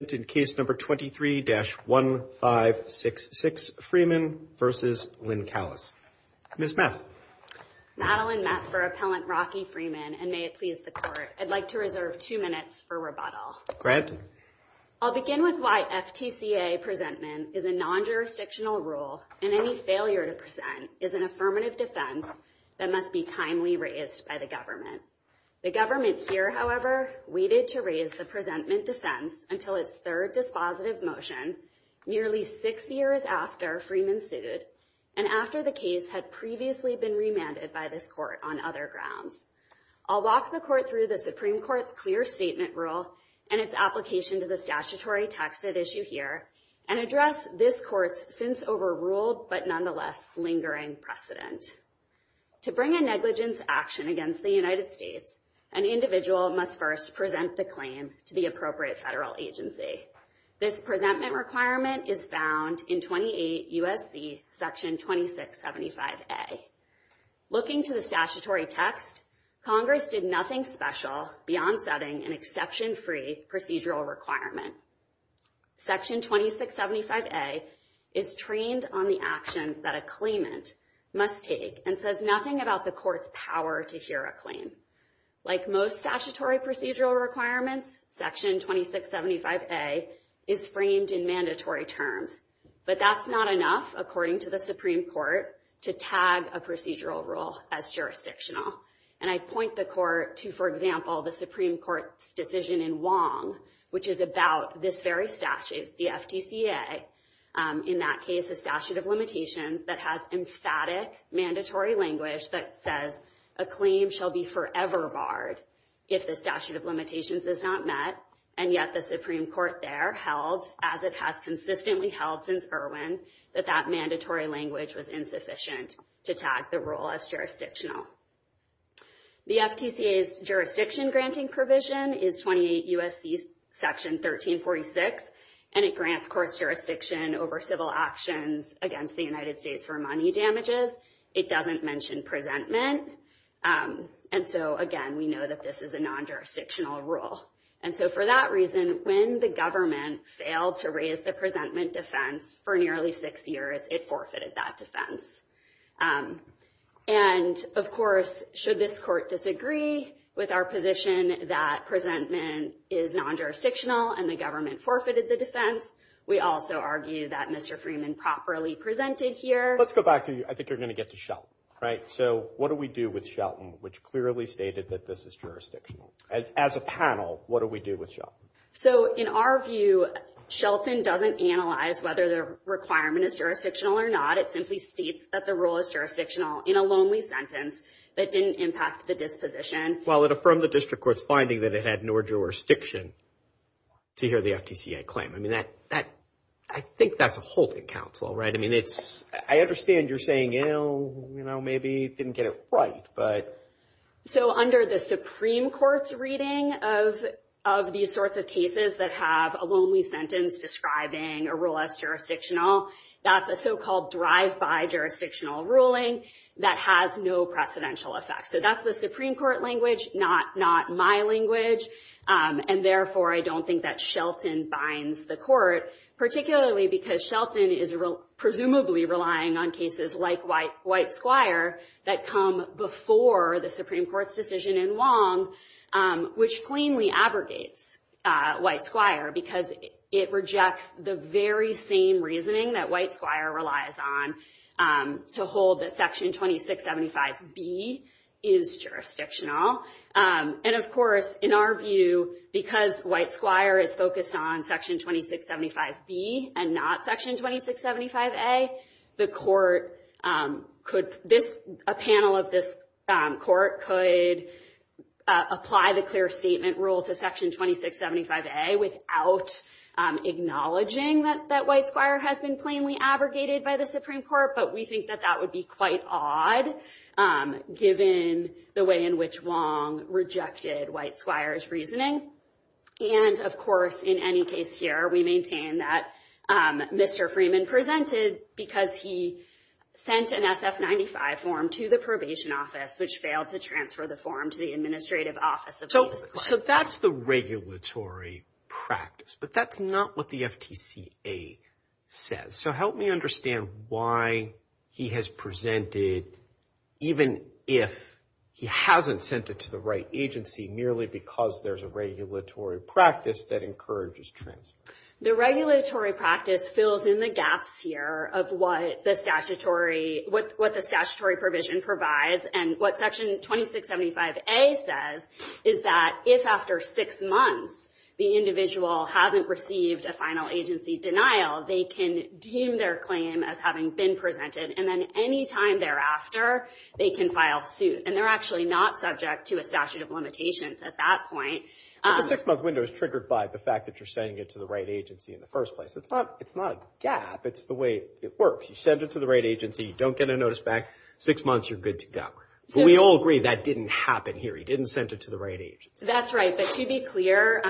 in case number 23-1566 Freeman versus Lincalis. Ms. Meth. Madeleine Meth for Appellant Rocky Freeman, and may it please the Court, I'd like to reserve two minutes for rebuttal. I'll begin with why FTCA presentment is a non-jurisdictional rule, and any failure to present is an affirmative defense that must be timely raised by the government. The government here, however, waited to raise the presentment defense until its third dispositive motion nearly six years after Freeman sued, and after the case had previously been remanded by this Court on other grounds. I'll walk the Court through the Supreme Court's clear statement rule and its application to the statutory texted issue here, and address this Court's since overruled but nonetheless lingering precedent. To bring a negligence action against the United States, an individual must first present the claim to the appropriate federal agency. This presentment requirement is found in 28 U.S.C. Section 2675A. Looking to the statutory text, Congress did nothing special beyond setting an exception-free procedural requirement. Section 2675A is trained on the actions that a claimant must take, and says nothing about the Court's power to hear a claim. Like most statutory procedural requirements, Section 2675A is framed in mandatory terms, but that's not enough, according to the Supreme Court, to tag a procedural rule as jurisdictional. And I point the Court to, for example, the Supreme Court's decision in Wong, which is about this very statute, the FTCA, in that case, a statute of limitations, that has emphatic mandatory language that says a claim shall be forever barred if the statute of limitations is not met. And yet the Supreme Court there held, as it has consistently held since Irwin, that that mandatory language was insufficient to tag the rule as jurisdictional. The FTCA's jurisdiction-granting provision is 28 U.S.C. Section 1346, and it grants Court's jurisdiction over civil actions against the United States for money damages. It doesn't mention presentment, and so again, we know that this is a non-jurisdictional rule. And so for that reason, when the government failed to raise the presentment defense for nearly six years, it forfeited that defense. And, of course, should this Court disagree with our position that presentment is non-jurisdictional and the government forfeited the defense, we also argue that Mr. Freeman properly presented here. Let's go back to, I think you're going to get to Shelton, right? So what do we do with Shelton, which clearly stated that this is jurisdictional? As a panel, what do we do with Shelton? So in our view, Shelton doesn't analyze whether the requirement is jurisdictional or not. It simply states that the rule is jurisdictional in a lonely sentence that didn't impact the disposition. Well, it affirmed the district court's finding that it had no jurisdiction to hear the FTCA claim. I mean, I think that's a holding counsel, right? I mean, I understand you're saying, you know, maybe it didn't get it right. So under the Supreme Court's reading of these sorts of cases that have a lonely sentence describing a rule as jurisdictional, that's a so-called drive-by jurisdictional ruling that has no precedential effect. So that's the Supreme Court language, not my language. And therefore, I don't think that Shelton binds the court, particularly because Shelton is presumably relying on cases like White Squire that come before the Supreme Court's decision in Wong, which plainly abrogates White Squire because it rejects the very same reasoning that White Squire relies on to hold that Section 2675B is jurisdictional. And of course, in our view, because White Squire is focused on Section 2675B and not Section 2675A, a panel of this court could apply the clear statement rule to Section 2675A without acknowledging that White Squire has been plainly abrogated by the Supreme Court. But we think that that would be quite odd, given the way in which Wong rejected White Squire's reasoning. And of course, in any case here, we maintain that Mr. Freeman presented because he sent an SF-95 form to the Probation Office, which failed to transfer the form to the Administrative Office. So that's the regulatory practice, but that's not what the FTCA says. So help me understand why he has presented, even if he hasn't sent it to the right agency, merely because there's a regulatory practice that encourages transfer. The regulatory practice fills in the gaps here of what the statutory provision provides. And what Section 2675A says is that if, after six months, the individual hasn't received a final agency denial, they can deem their claim as having been presented, and then any time thereafter, they can file suit. And they're actually not subject to a statute of limitations at that point. But the six-month window is triggered by the fact that you're sending it to the right agency in the first place. It's not a gap. It's the way it works. You send it to the right agency. You don't get a notice back. Six months, you're good to go. So we all agree that didn't happen here. He didn't send it to the right agency. That's right. But to be clear,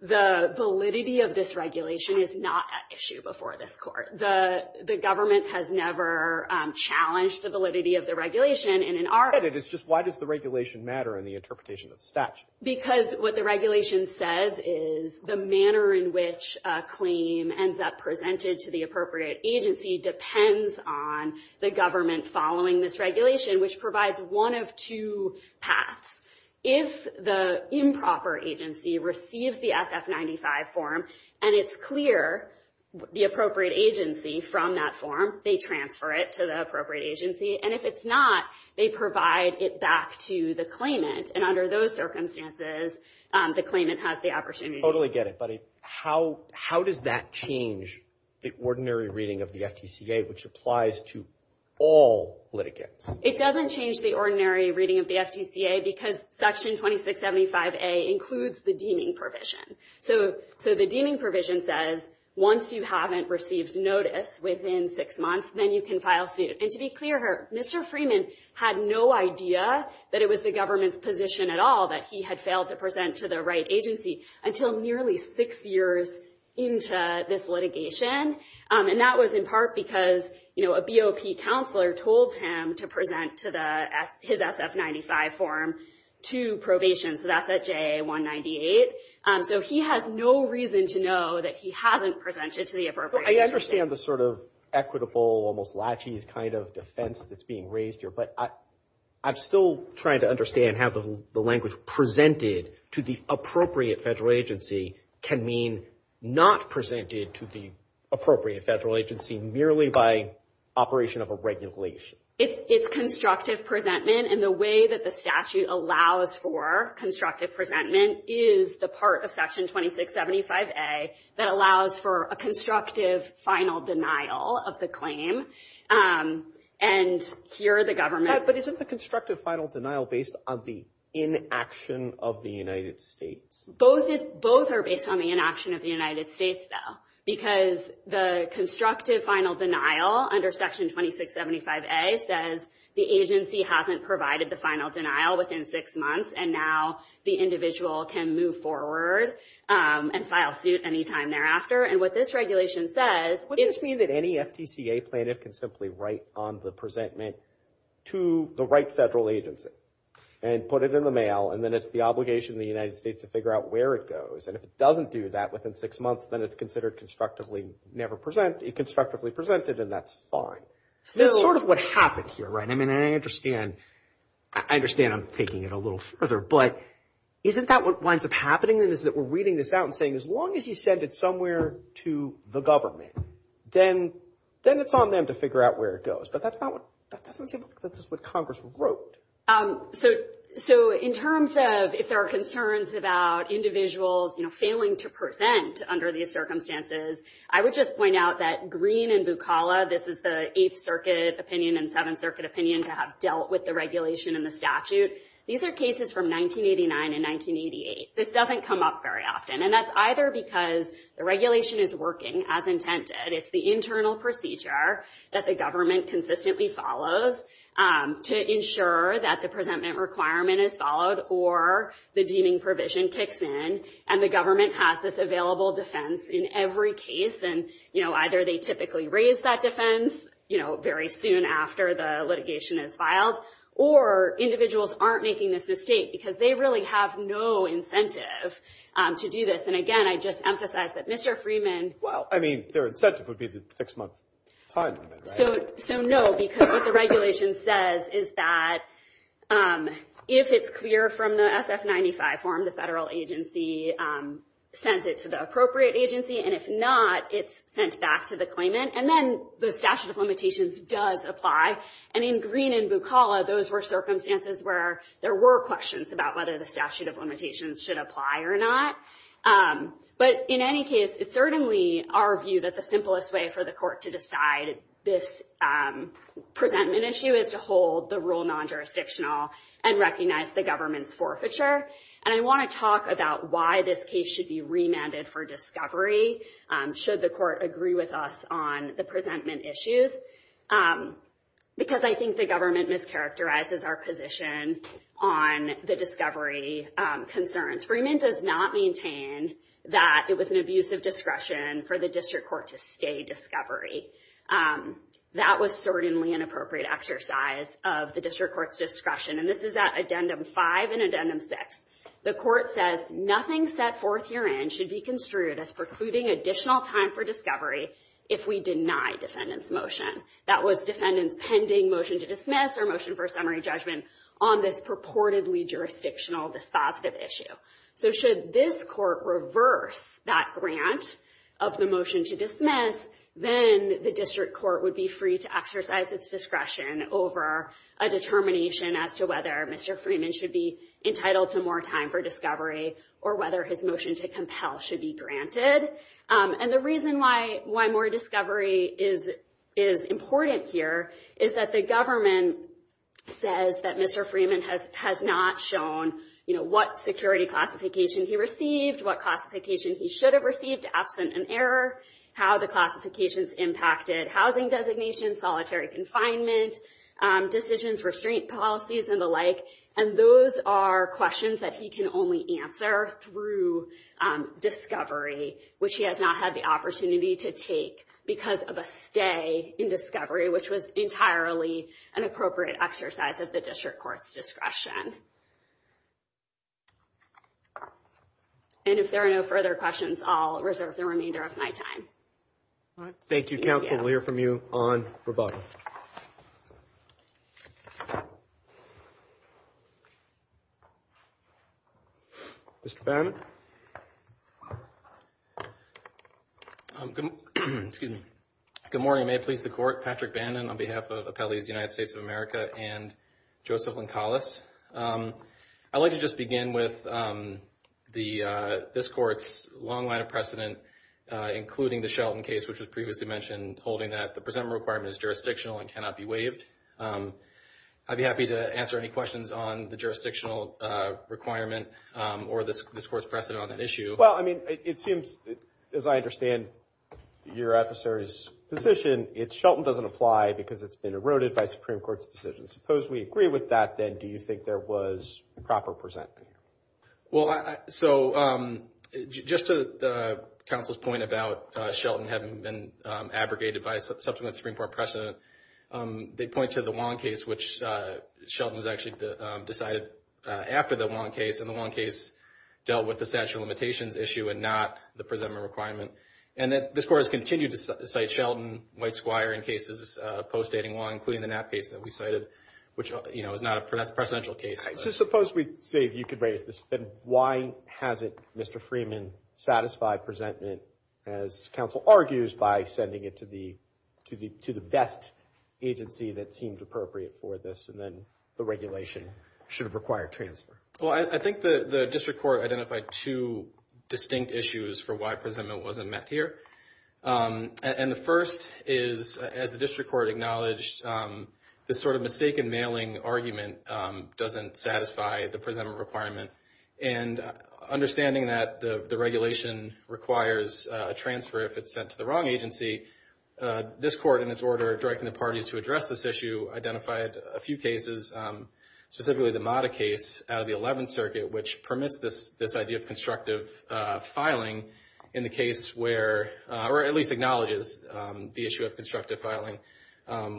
the validity of this regulation is not at issue before this Court. The government has never challenged the validity of the regulation. And in our opinion, it's just why does the regulation matter in the interpretation of the statute? Because what the regulation says is the manner in which a claim ends up presented to the appropriate agency depends on the government following this regulation, which provides one of two paths. If the improper agency receives the SF-95 form and it's clear the appropriate agency from that form, they transfer it to the appropriate agency. And if it's not, they provide it back to the claimant. And under those circumstances, the claimant has the opportunity. I totally get it, buddy. How does that change the ordinary reading of the FTCA, which applies to all litigants? It doesn't change the ordinary reading of the FTCA because Section 2675A includes the deeming provision. So the deeming provision says once you haven't received notice within six months, then you can file suit. And to be clear here, Mr. Freeman had no idea that it was the government's position at all that he had failed to present to the right agency until nearly six years into this litigation. And that was in part because, you know, a BOP counselor told him to present his SF-95 form to probation. So that's at JA-198. So he has no reason to know that he hasn't presented to the appropriate agency. I understand the sort of equitable, almost latches kind of defense that's being raised here. But I'm still trying to understand how the language presented to the appropriate federal agency can mean not presented to the appropriate federal agency merely by operation of a regulation. It's constructive presentment. And the way that the statute allows for constructive presentment is the part of Section 2675A that allows for a constructive final denial of the claim. And here the government. But isn't the constructive final denial based on the inaction of the United States? Both are based on the inaction of the United States, though, because the constructive final denial under Section 2675A says the agency hasn't provided the final denial within six months, and now the individual can move forward and file suit any time thereafter. And what this regulation says. Would this mean that any FTCA plaintiff can simply write on the presentment to the right federal agency and put it in the mail, and then it's the obligation of the United States to figure out where it goes. And if it doesn't do that within six months, then it's considered constructively never presented, constructively presented, and that's fine. That's sort of what happened here, right? I mean, I understand. I understand I'm taking it a little further. But isn't that what winds up happening is that we're reading this out and saying, as long as you send it somewhere to the government, then it's on them to figure out where it goes. But that's not what – that doesn't seem like this is what Congress wrote. So in terms of if there are concerns about individuals, you know, failing to present under these circumstances, I would just point out that Green and Bukala, this is the Eighth Circuit opinion and Seventh Circuit opinion to have dealt with the regulation and the statute. These are cases from 1989 and 1988. This doesn't come up very often, and that's either because the regulation is working as intended, it's the internal procedure that the government consistently follows to ensure that the presentment requirement is followed or the deeming provision kicks in, and the government has this available defense in every case. And, you know, either they typically raise that defense, you know, very soon after the litigation is filed, or individuals aren't making this mistake because they really have no incentive to do this. And, again, I just emphasize that Mr. Freeman – Well, I mean, their incentive would be the six-month time limit, right? So no, because what the regulation says is that if it's clear from the SF-95 form, the federal agency sends it to the appropriate agency, and if not, it's sent back to the claimant, and then the statute of limitations does apply. And in Green and Bukala, those were circumstances where there were questions about whether the statute of limitations should apply or not. But in any case, it's certainly our view that the simplest way for the court to decide this presentment issue is to hold the rule non-jurisdictional and recognize the government's forfeiture. And I want to talk about why this case should be remanded for discovery, should the court agree with us on the presentment issues, because I think the government mischaracterizes our position on the discovery concerns. Freeman does not maintain that it was an abuse of discretion for the district court to stay discovery. That was certainly an appropriate exercise of the district court's discretion, and this is at Addendum 5 and Addendum 6. The court says, Nothing set forth herein should be construed as precluding additional time for discovery if we deny defendant's motion. That was defendant's pending motion to dismiss or motion for summary judgment on this purportedly jurisdictional dispositive issue. So should this court reverse that grant of the motion to dismiss, then the district court would be free to exercise its discretion over a determination as to whether Mr. Freeman should be entitled to more time for discovery or whether his motion to compel should be granted. And the reason why more discovery is important here is that the government says that Mr. Freeman has not shown, you know, what security classification he received, what classification he should have received, absent an error, how the classifications impacted housing designation, solitary confinement, decisions, restraint policies, and the like. And those are questions that he can only answer through discovery, which he has not had the opportunity to take because of a stay in discovery, which was entirely an appropriate exercise of the district court's discretion. And if there are no further questions, I'll reserve the remainder of my time. Thank you, counsel. We'll hear from you on rebuttal. Mr. Bannon? Good morning. May it please the court. Patrick Bannon on behalf of Appellees United States of America and Joseph Lincolas. I'd like to just begin with this court's long line of precedent, including the Shelton case, which was previously mentioned, holding that the presentable requirement is jurisdictional and cannot be waived. I'd be happy to answer any questions on the jurisdictional requirement or this court's precedent on that issue. Well, I mean, it seems, as I understand your adversary's position, it's Shelton doesn't apply because it's been eroded by Supreme Court's decision. Suppose we agree with that, then do you think there was proper presentment? Well, so just to counsel's point about Shelton having been abrogated by subsequent Supreme Court precedent, they point to the Wong case, which Shelton has actually decided after the Wong case, and the Wong case dealt with the statute of limitations issue and not the presentable requirement. And this court has continued to cite Shelton, White Squire in cases post-dating Wong, including the Knapp case that we cited, which is not a precedential case. So suppose we say, if you could raise this, then why hasn't Mr. Freeman satisfied presentment, as counsel argues, by sending it to the best agency that seemed appropriate for this, and then the regulation should have required transfer? Well, I think the district court identified two distinct issues for why presentment wasn't met here. And the first is, as the district court acknowledged, this sort of mistaken mailing argument doesn't satisfy the presentable requirement. And understanding that the regulation requires a transfer if it's sent to the wrong agency, this court, in its order directing the parties to address this issue, identified a few cases, specifically the Mata case out of the Eleventh Circuit, which permits this idea of constructive filing in the case where, or at least acknowledges the issue of constructive filing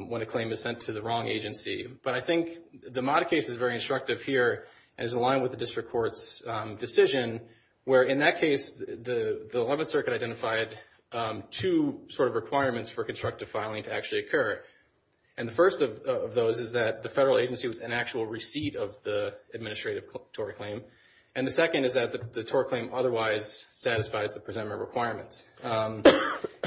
when a claim is sent to the wrong agency. But I think the Mata case is very instructive here and is aligned with the district court's decision, where in that case the Eleventh Circuit identified two sort of requirements for constructive filing to actually occur. And the first of those is that the federal agency was in actual receipt of the administrative TOR claim. And the second is that the TOR claim otherwise satisfies the presentment requirements. And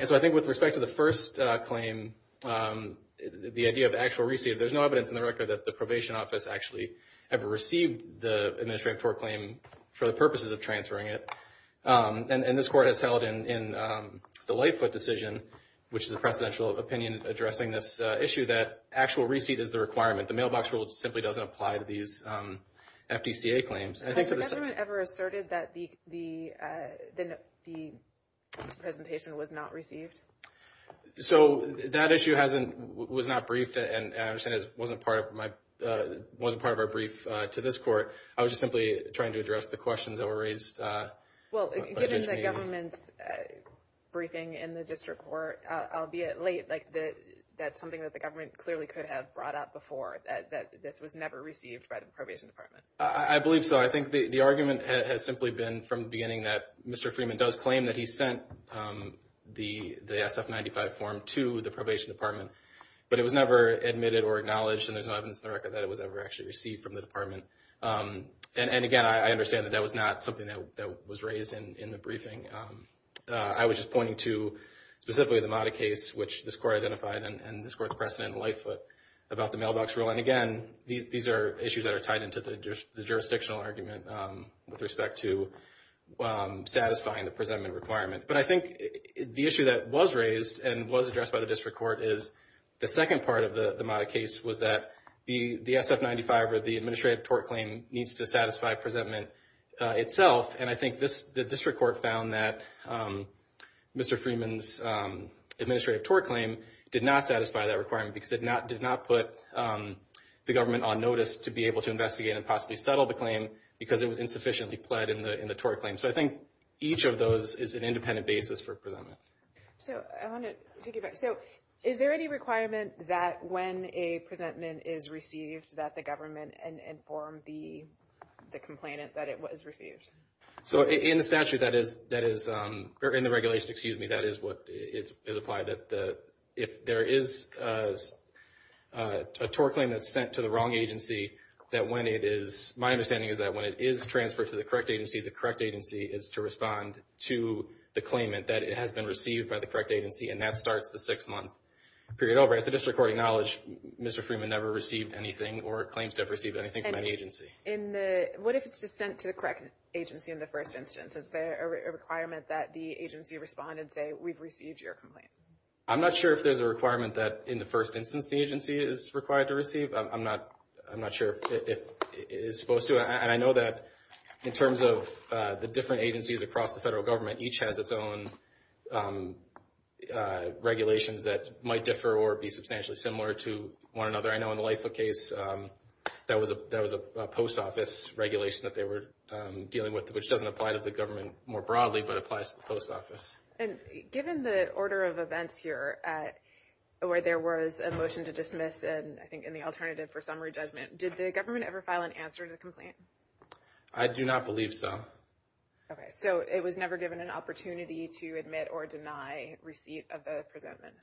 so I think with respect to the first claim, the idea of actual receipt, there's no evidence in the record that the probation office actually ever received the administrative TOR claim for the purposes of transferring it. And this court has held in the Lightfoot decision, which is a precedential opinion addressing this issue, that actual receipt is the requirement. The mailbox rule simply doesn't apply to these FDCA claims. Has the government ever asserted that the presentation was not received? So that issue was not briefed, and I understand it wasn't part of our brief to this court. I was just simply trying to address the questions that were raised. Well, given the government's briefing in the district court, albeit late, that's something that the government clearly could have brought up before, that this was never received by the probation department. I believe so. I think the argument has simply been from the beginning that Mr. Freeman does claim that he sent the SF-95 form to the probation department, but it was never admitted or acknowledged, and there's no evidence in the record that it was ever actually received from the department. And, again, I understand that that was not something that was raised in the briefing. I was just pointing to specifically the Mata case, which this court identified, and this court's precedent in Lightfoot about the mailbox rule. And, again, these are issues that are tied into the jurisdictional argument with respect to satisfying the presentment requirement. But I think the issue that was raised and was addressed by the district court is the second part of the Mata case was that the SF-95 or the administrative tort claim needs to satisfy presentment itself, and I think the district court found that Mr. Freeman's administrative tort claim did not satisfy that requirement because it did not put the government on notice to be able to investigate and possibly settle the claim because it was insufficiently pled in the tort claim. So I think each of those is an independent basis for presentment. So I wanted to get back. So is there any requirement that when a presentment is received that the government inform the complainant that it was received? So in the regulation, that is what is applied. If there is a tort claim that's sent to the wrong agency, my understanding is that when it is transferred to the correct agency, the correct agency is to respond to the claimant that it has been received by the correct agency, and that starts the six-month period over. As the district court acknowledged, Mr. Freeman never received anything or claims to have received anything from any agency. What if it's just sent to the correct agency in the first instance? Is there a requirement that the agency respond and say, we've received your complaint? I'm not sure if there's a requirement that in the first instance the agency is required to receive. I'm not sure if it is supposed to. And I know that in terms of the different agencies across the federal government, each has its own regulations that might differ or be substantially similar to one another. I know in the LIFA case, that was a post office regulation that they were dealing with, which doesn't apply to the government more broadly, but applies to the post office. And given the order of events here where there was a motion to dismiss, and I think in the alternative for summary judgment, did the government ever file an answer to the complaint? I do not believe so. Okay, so it was never given an opportunity to admit or deny receipt of the presentment?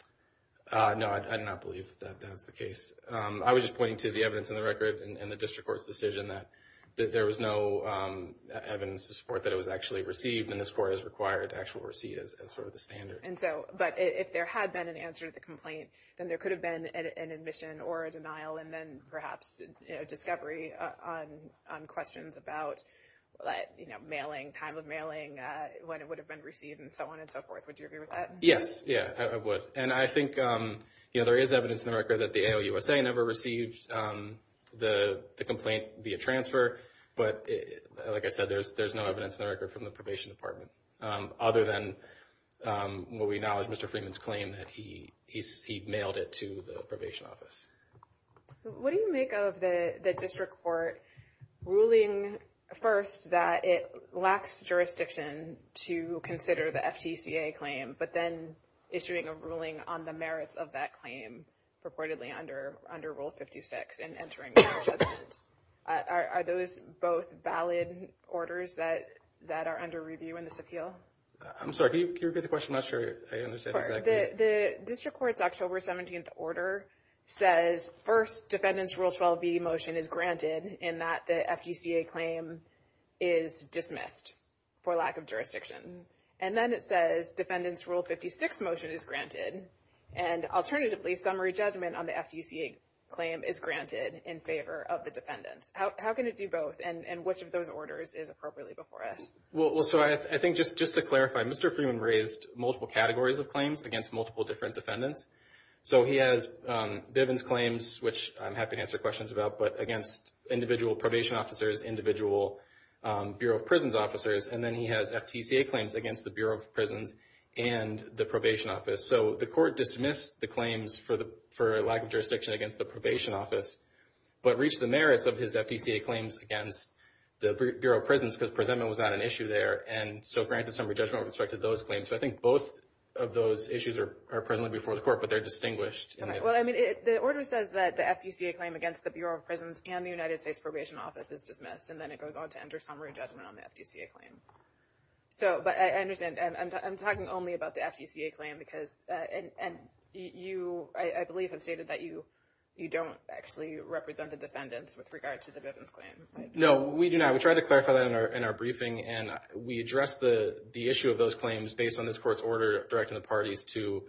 No, I do not believe that that's the case. I was just pointing to the evidence in the record and the district court's decision that there was no evidence to support that it was actually received, and this court has required actual receipt as sort of the standard. And so, but if there had been an answer to the complaint, then there could have been an admission or a denial, and then perhaps a discovery on questions about mailing, time of mailing, when it would have been received, and so on and so forth. Would you agree with that? Yes, yeah, I would. And I think, you know, there is evidence in the record that the ALUSA never received the complaint via transfer, but like I said, there's no evidence in the record from the probation department, other than what we acknowledge, Mr. Freeman's claim that he mailed it to the probation office. What do you make of the district court ruling first that it lacks jurisdiction to consider the FTCA claim, but then issuing a ruling on the merits of that claim purportedly under Rule 56 and entering a judgment? Are those both valid orders that are under review in this appeal? I'm sorry. Can you repeat the question? I'm not sure I understand exactly. The district court's October 17th order says first defendant's Rule 12b motion is granted in that the FTCA claim is dismissed for lack of jurisdiction. And then it says defendant's Rule 56 motion is granted. And alternatively, summary judgment on the FTCA claim is granted in favor of the defendants. How can it do both, and which of those orders is appropriately before us? Well, so I think just to clarify, Mr. Freeman raised multiple categories of claims against multiple different defendants. So he has Bivens claims, which I'm happy to answer questions about, but against individual probation officers, individual Bureau of Prisons officers, and then he has FTCA claims against the Bureau of Prisons and the probation office. So the court dismissed the claims for lack of jurisdiction against the probation office, but reached the merits of his FTCA claims against the Bureau of Prisons because presentment was not an issue there, and so granted summary judgment with respect to those claims. So I think both of those issues are presently before the court, but they're distinguished. Well, I mean, the order says that the FTCA claim against the Bureau of Prisons and the United States Probation Office is dismissed, and then it goes on to enter summary judgment on the FTCA claim. So, but I understand, and I'm talking only about the FTCA claim because, and you, I believe, have stated that you don't actually represent the defendants with regard to the Bivens claim. No, we do not. We tried to clarify that in our briefing, and we addressed the issue of those claims based on this court's order directing the parties to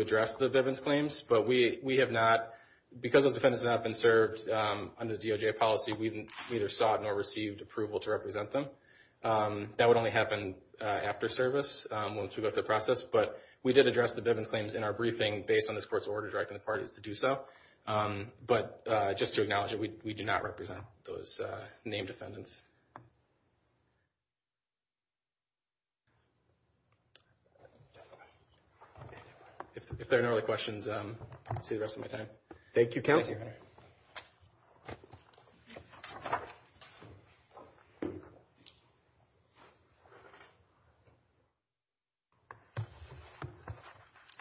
address the Bivens claims. But we have not, because those defendants have not been served under the DOJ policy, we neither sought nor received approval to represent them. That would only happen after service, once we go through the process. But we did address the Bivens claims in our briefing based on this court's order directing the parties to do so. But just to acknowledge it, we do not represent those named defendants. If there are no other questions, I'll save the rest of my time. Thank you, counsel. Thank you.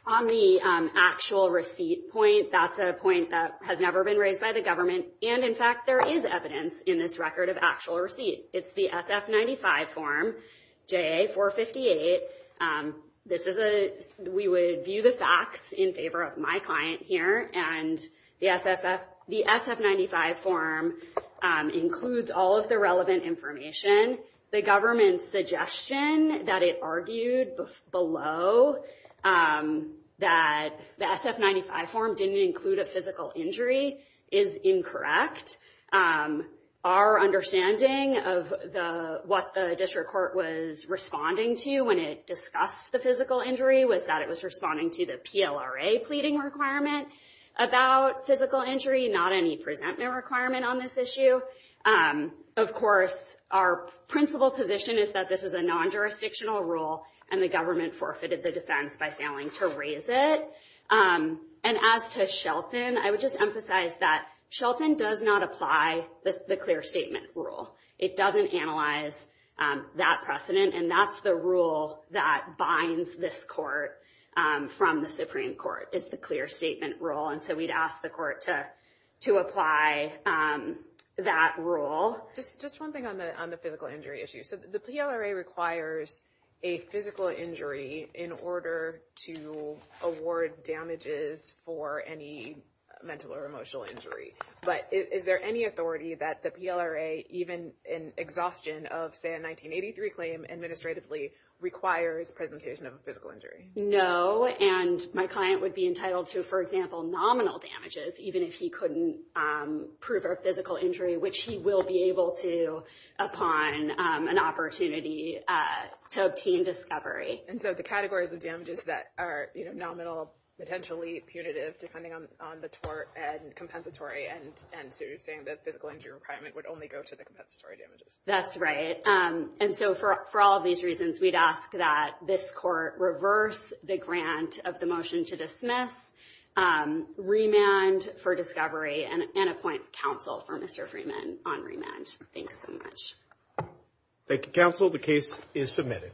On the actual receipt point, that's a point that has never been raised by the government. And, in fact, there is evidence in this record of actual receipt. It's the SF-95 form, JA-458. This is a, we would view the facts in favor of my client here. And the SF-95 form includes all of the relevant information. The government's suggestion that it argued below that the SF-95 form didn't include a physical injury is incorrect. Our understanding of what the district court was responding to when it discussed the physical injury was that it was responding to the PLRA pleading requirement about physical injury, not any presentment requirement on this issue. Of course, our principal position is that this is a non-jurisdictional rule, and the government forfeited the defense by failing to raise it. And as to Shelton, I would just emphasize that Shelton does not apply the clear statement rule. It doesn't analyze that precedent. And that's the rule that binds this court from the Supreme Court is the clear statement rule. And so we'd ask the court to apply that rule. Just one thing on the physical injury issue. So the PLRA requires a physical injury in order to award damages for any mental or emotional injury. But is there any authority that the PLRA, even in exhaustion of, say, a 1983 claim administratively requires presentation of a physical injury? No, and my client would be entitled to, for example, nominal damages, even if he couldn't prove a physical injury, which he will be able to upon an opportunity to obtain discovery. And so the categories of damages that are nominal, potentially punitive, depending on the tort, and compensatory, and so you're saying that physical injury requirement would only go to the compensatory damages. That's right. And so for all of these reasons, we'd ask that this court reverse the grant of the motion to dismiss, remand for discovery, and appoint counsel for Mr. Freeman on remand. Thanks so much. Thank you, counsel. The case is submitted.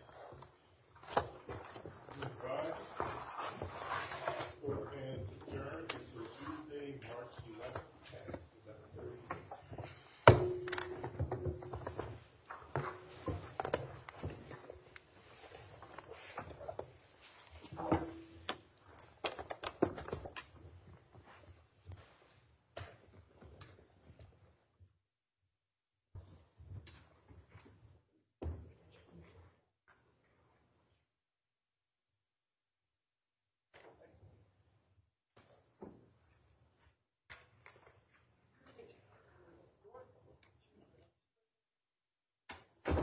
Thank you.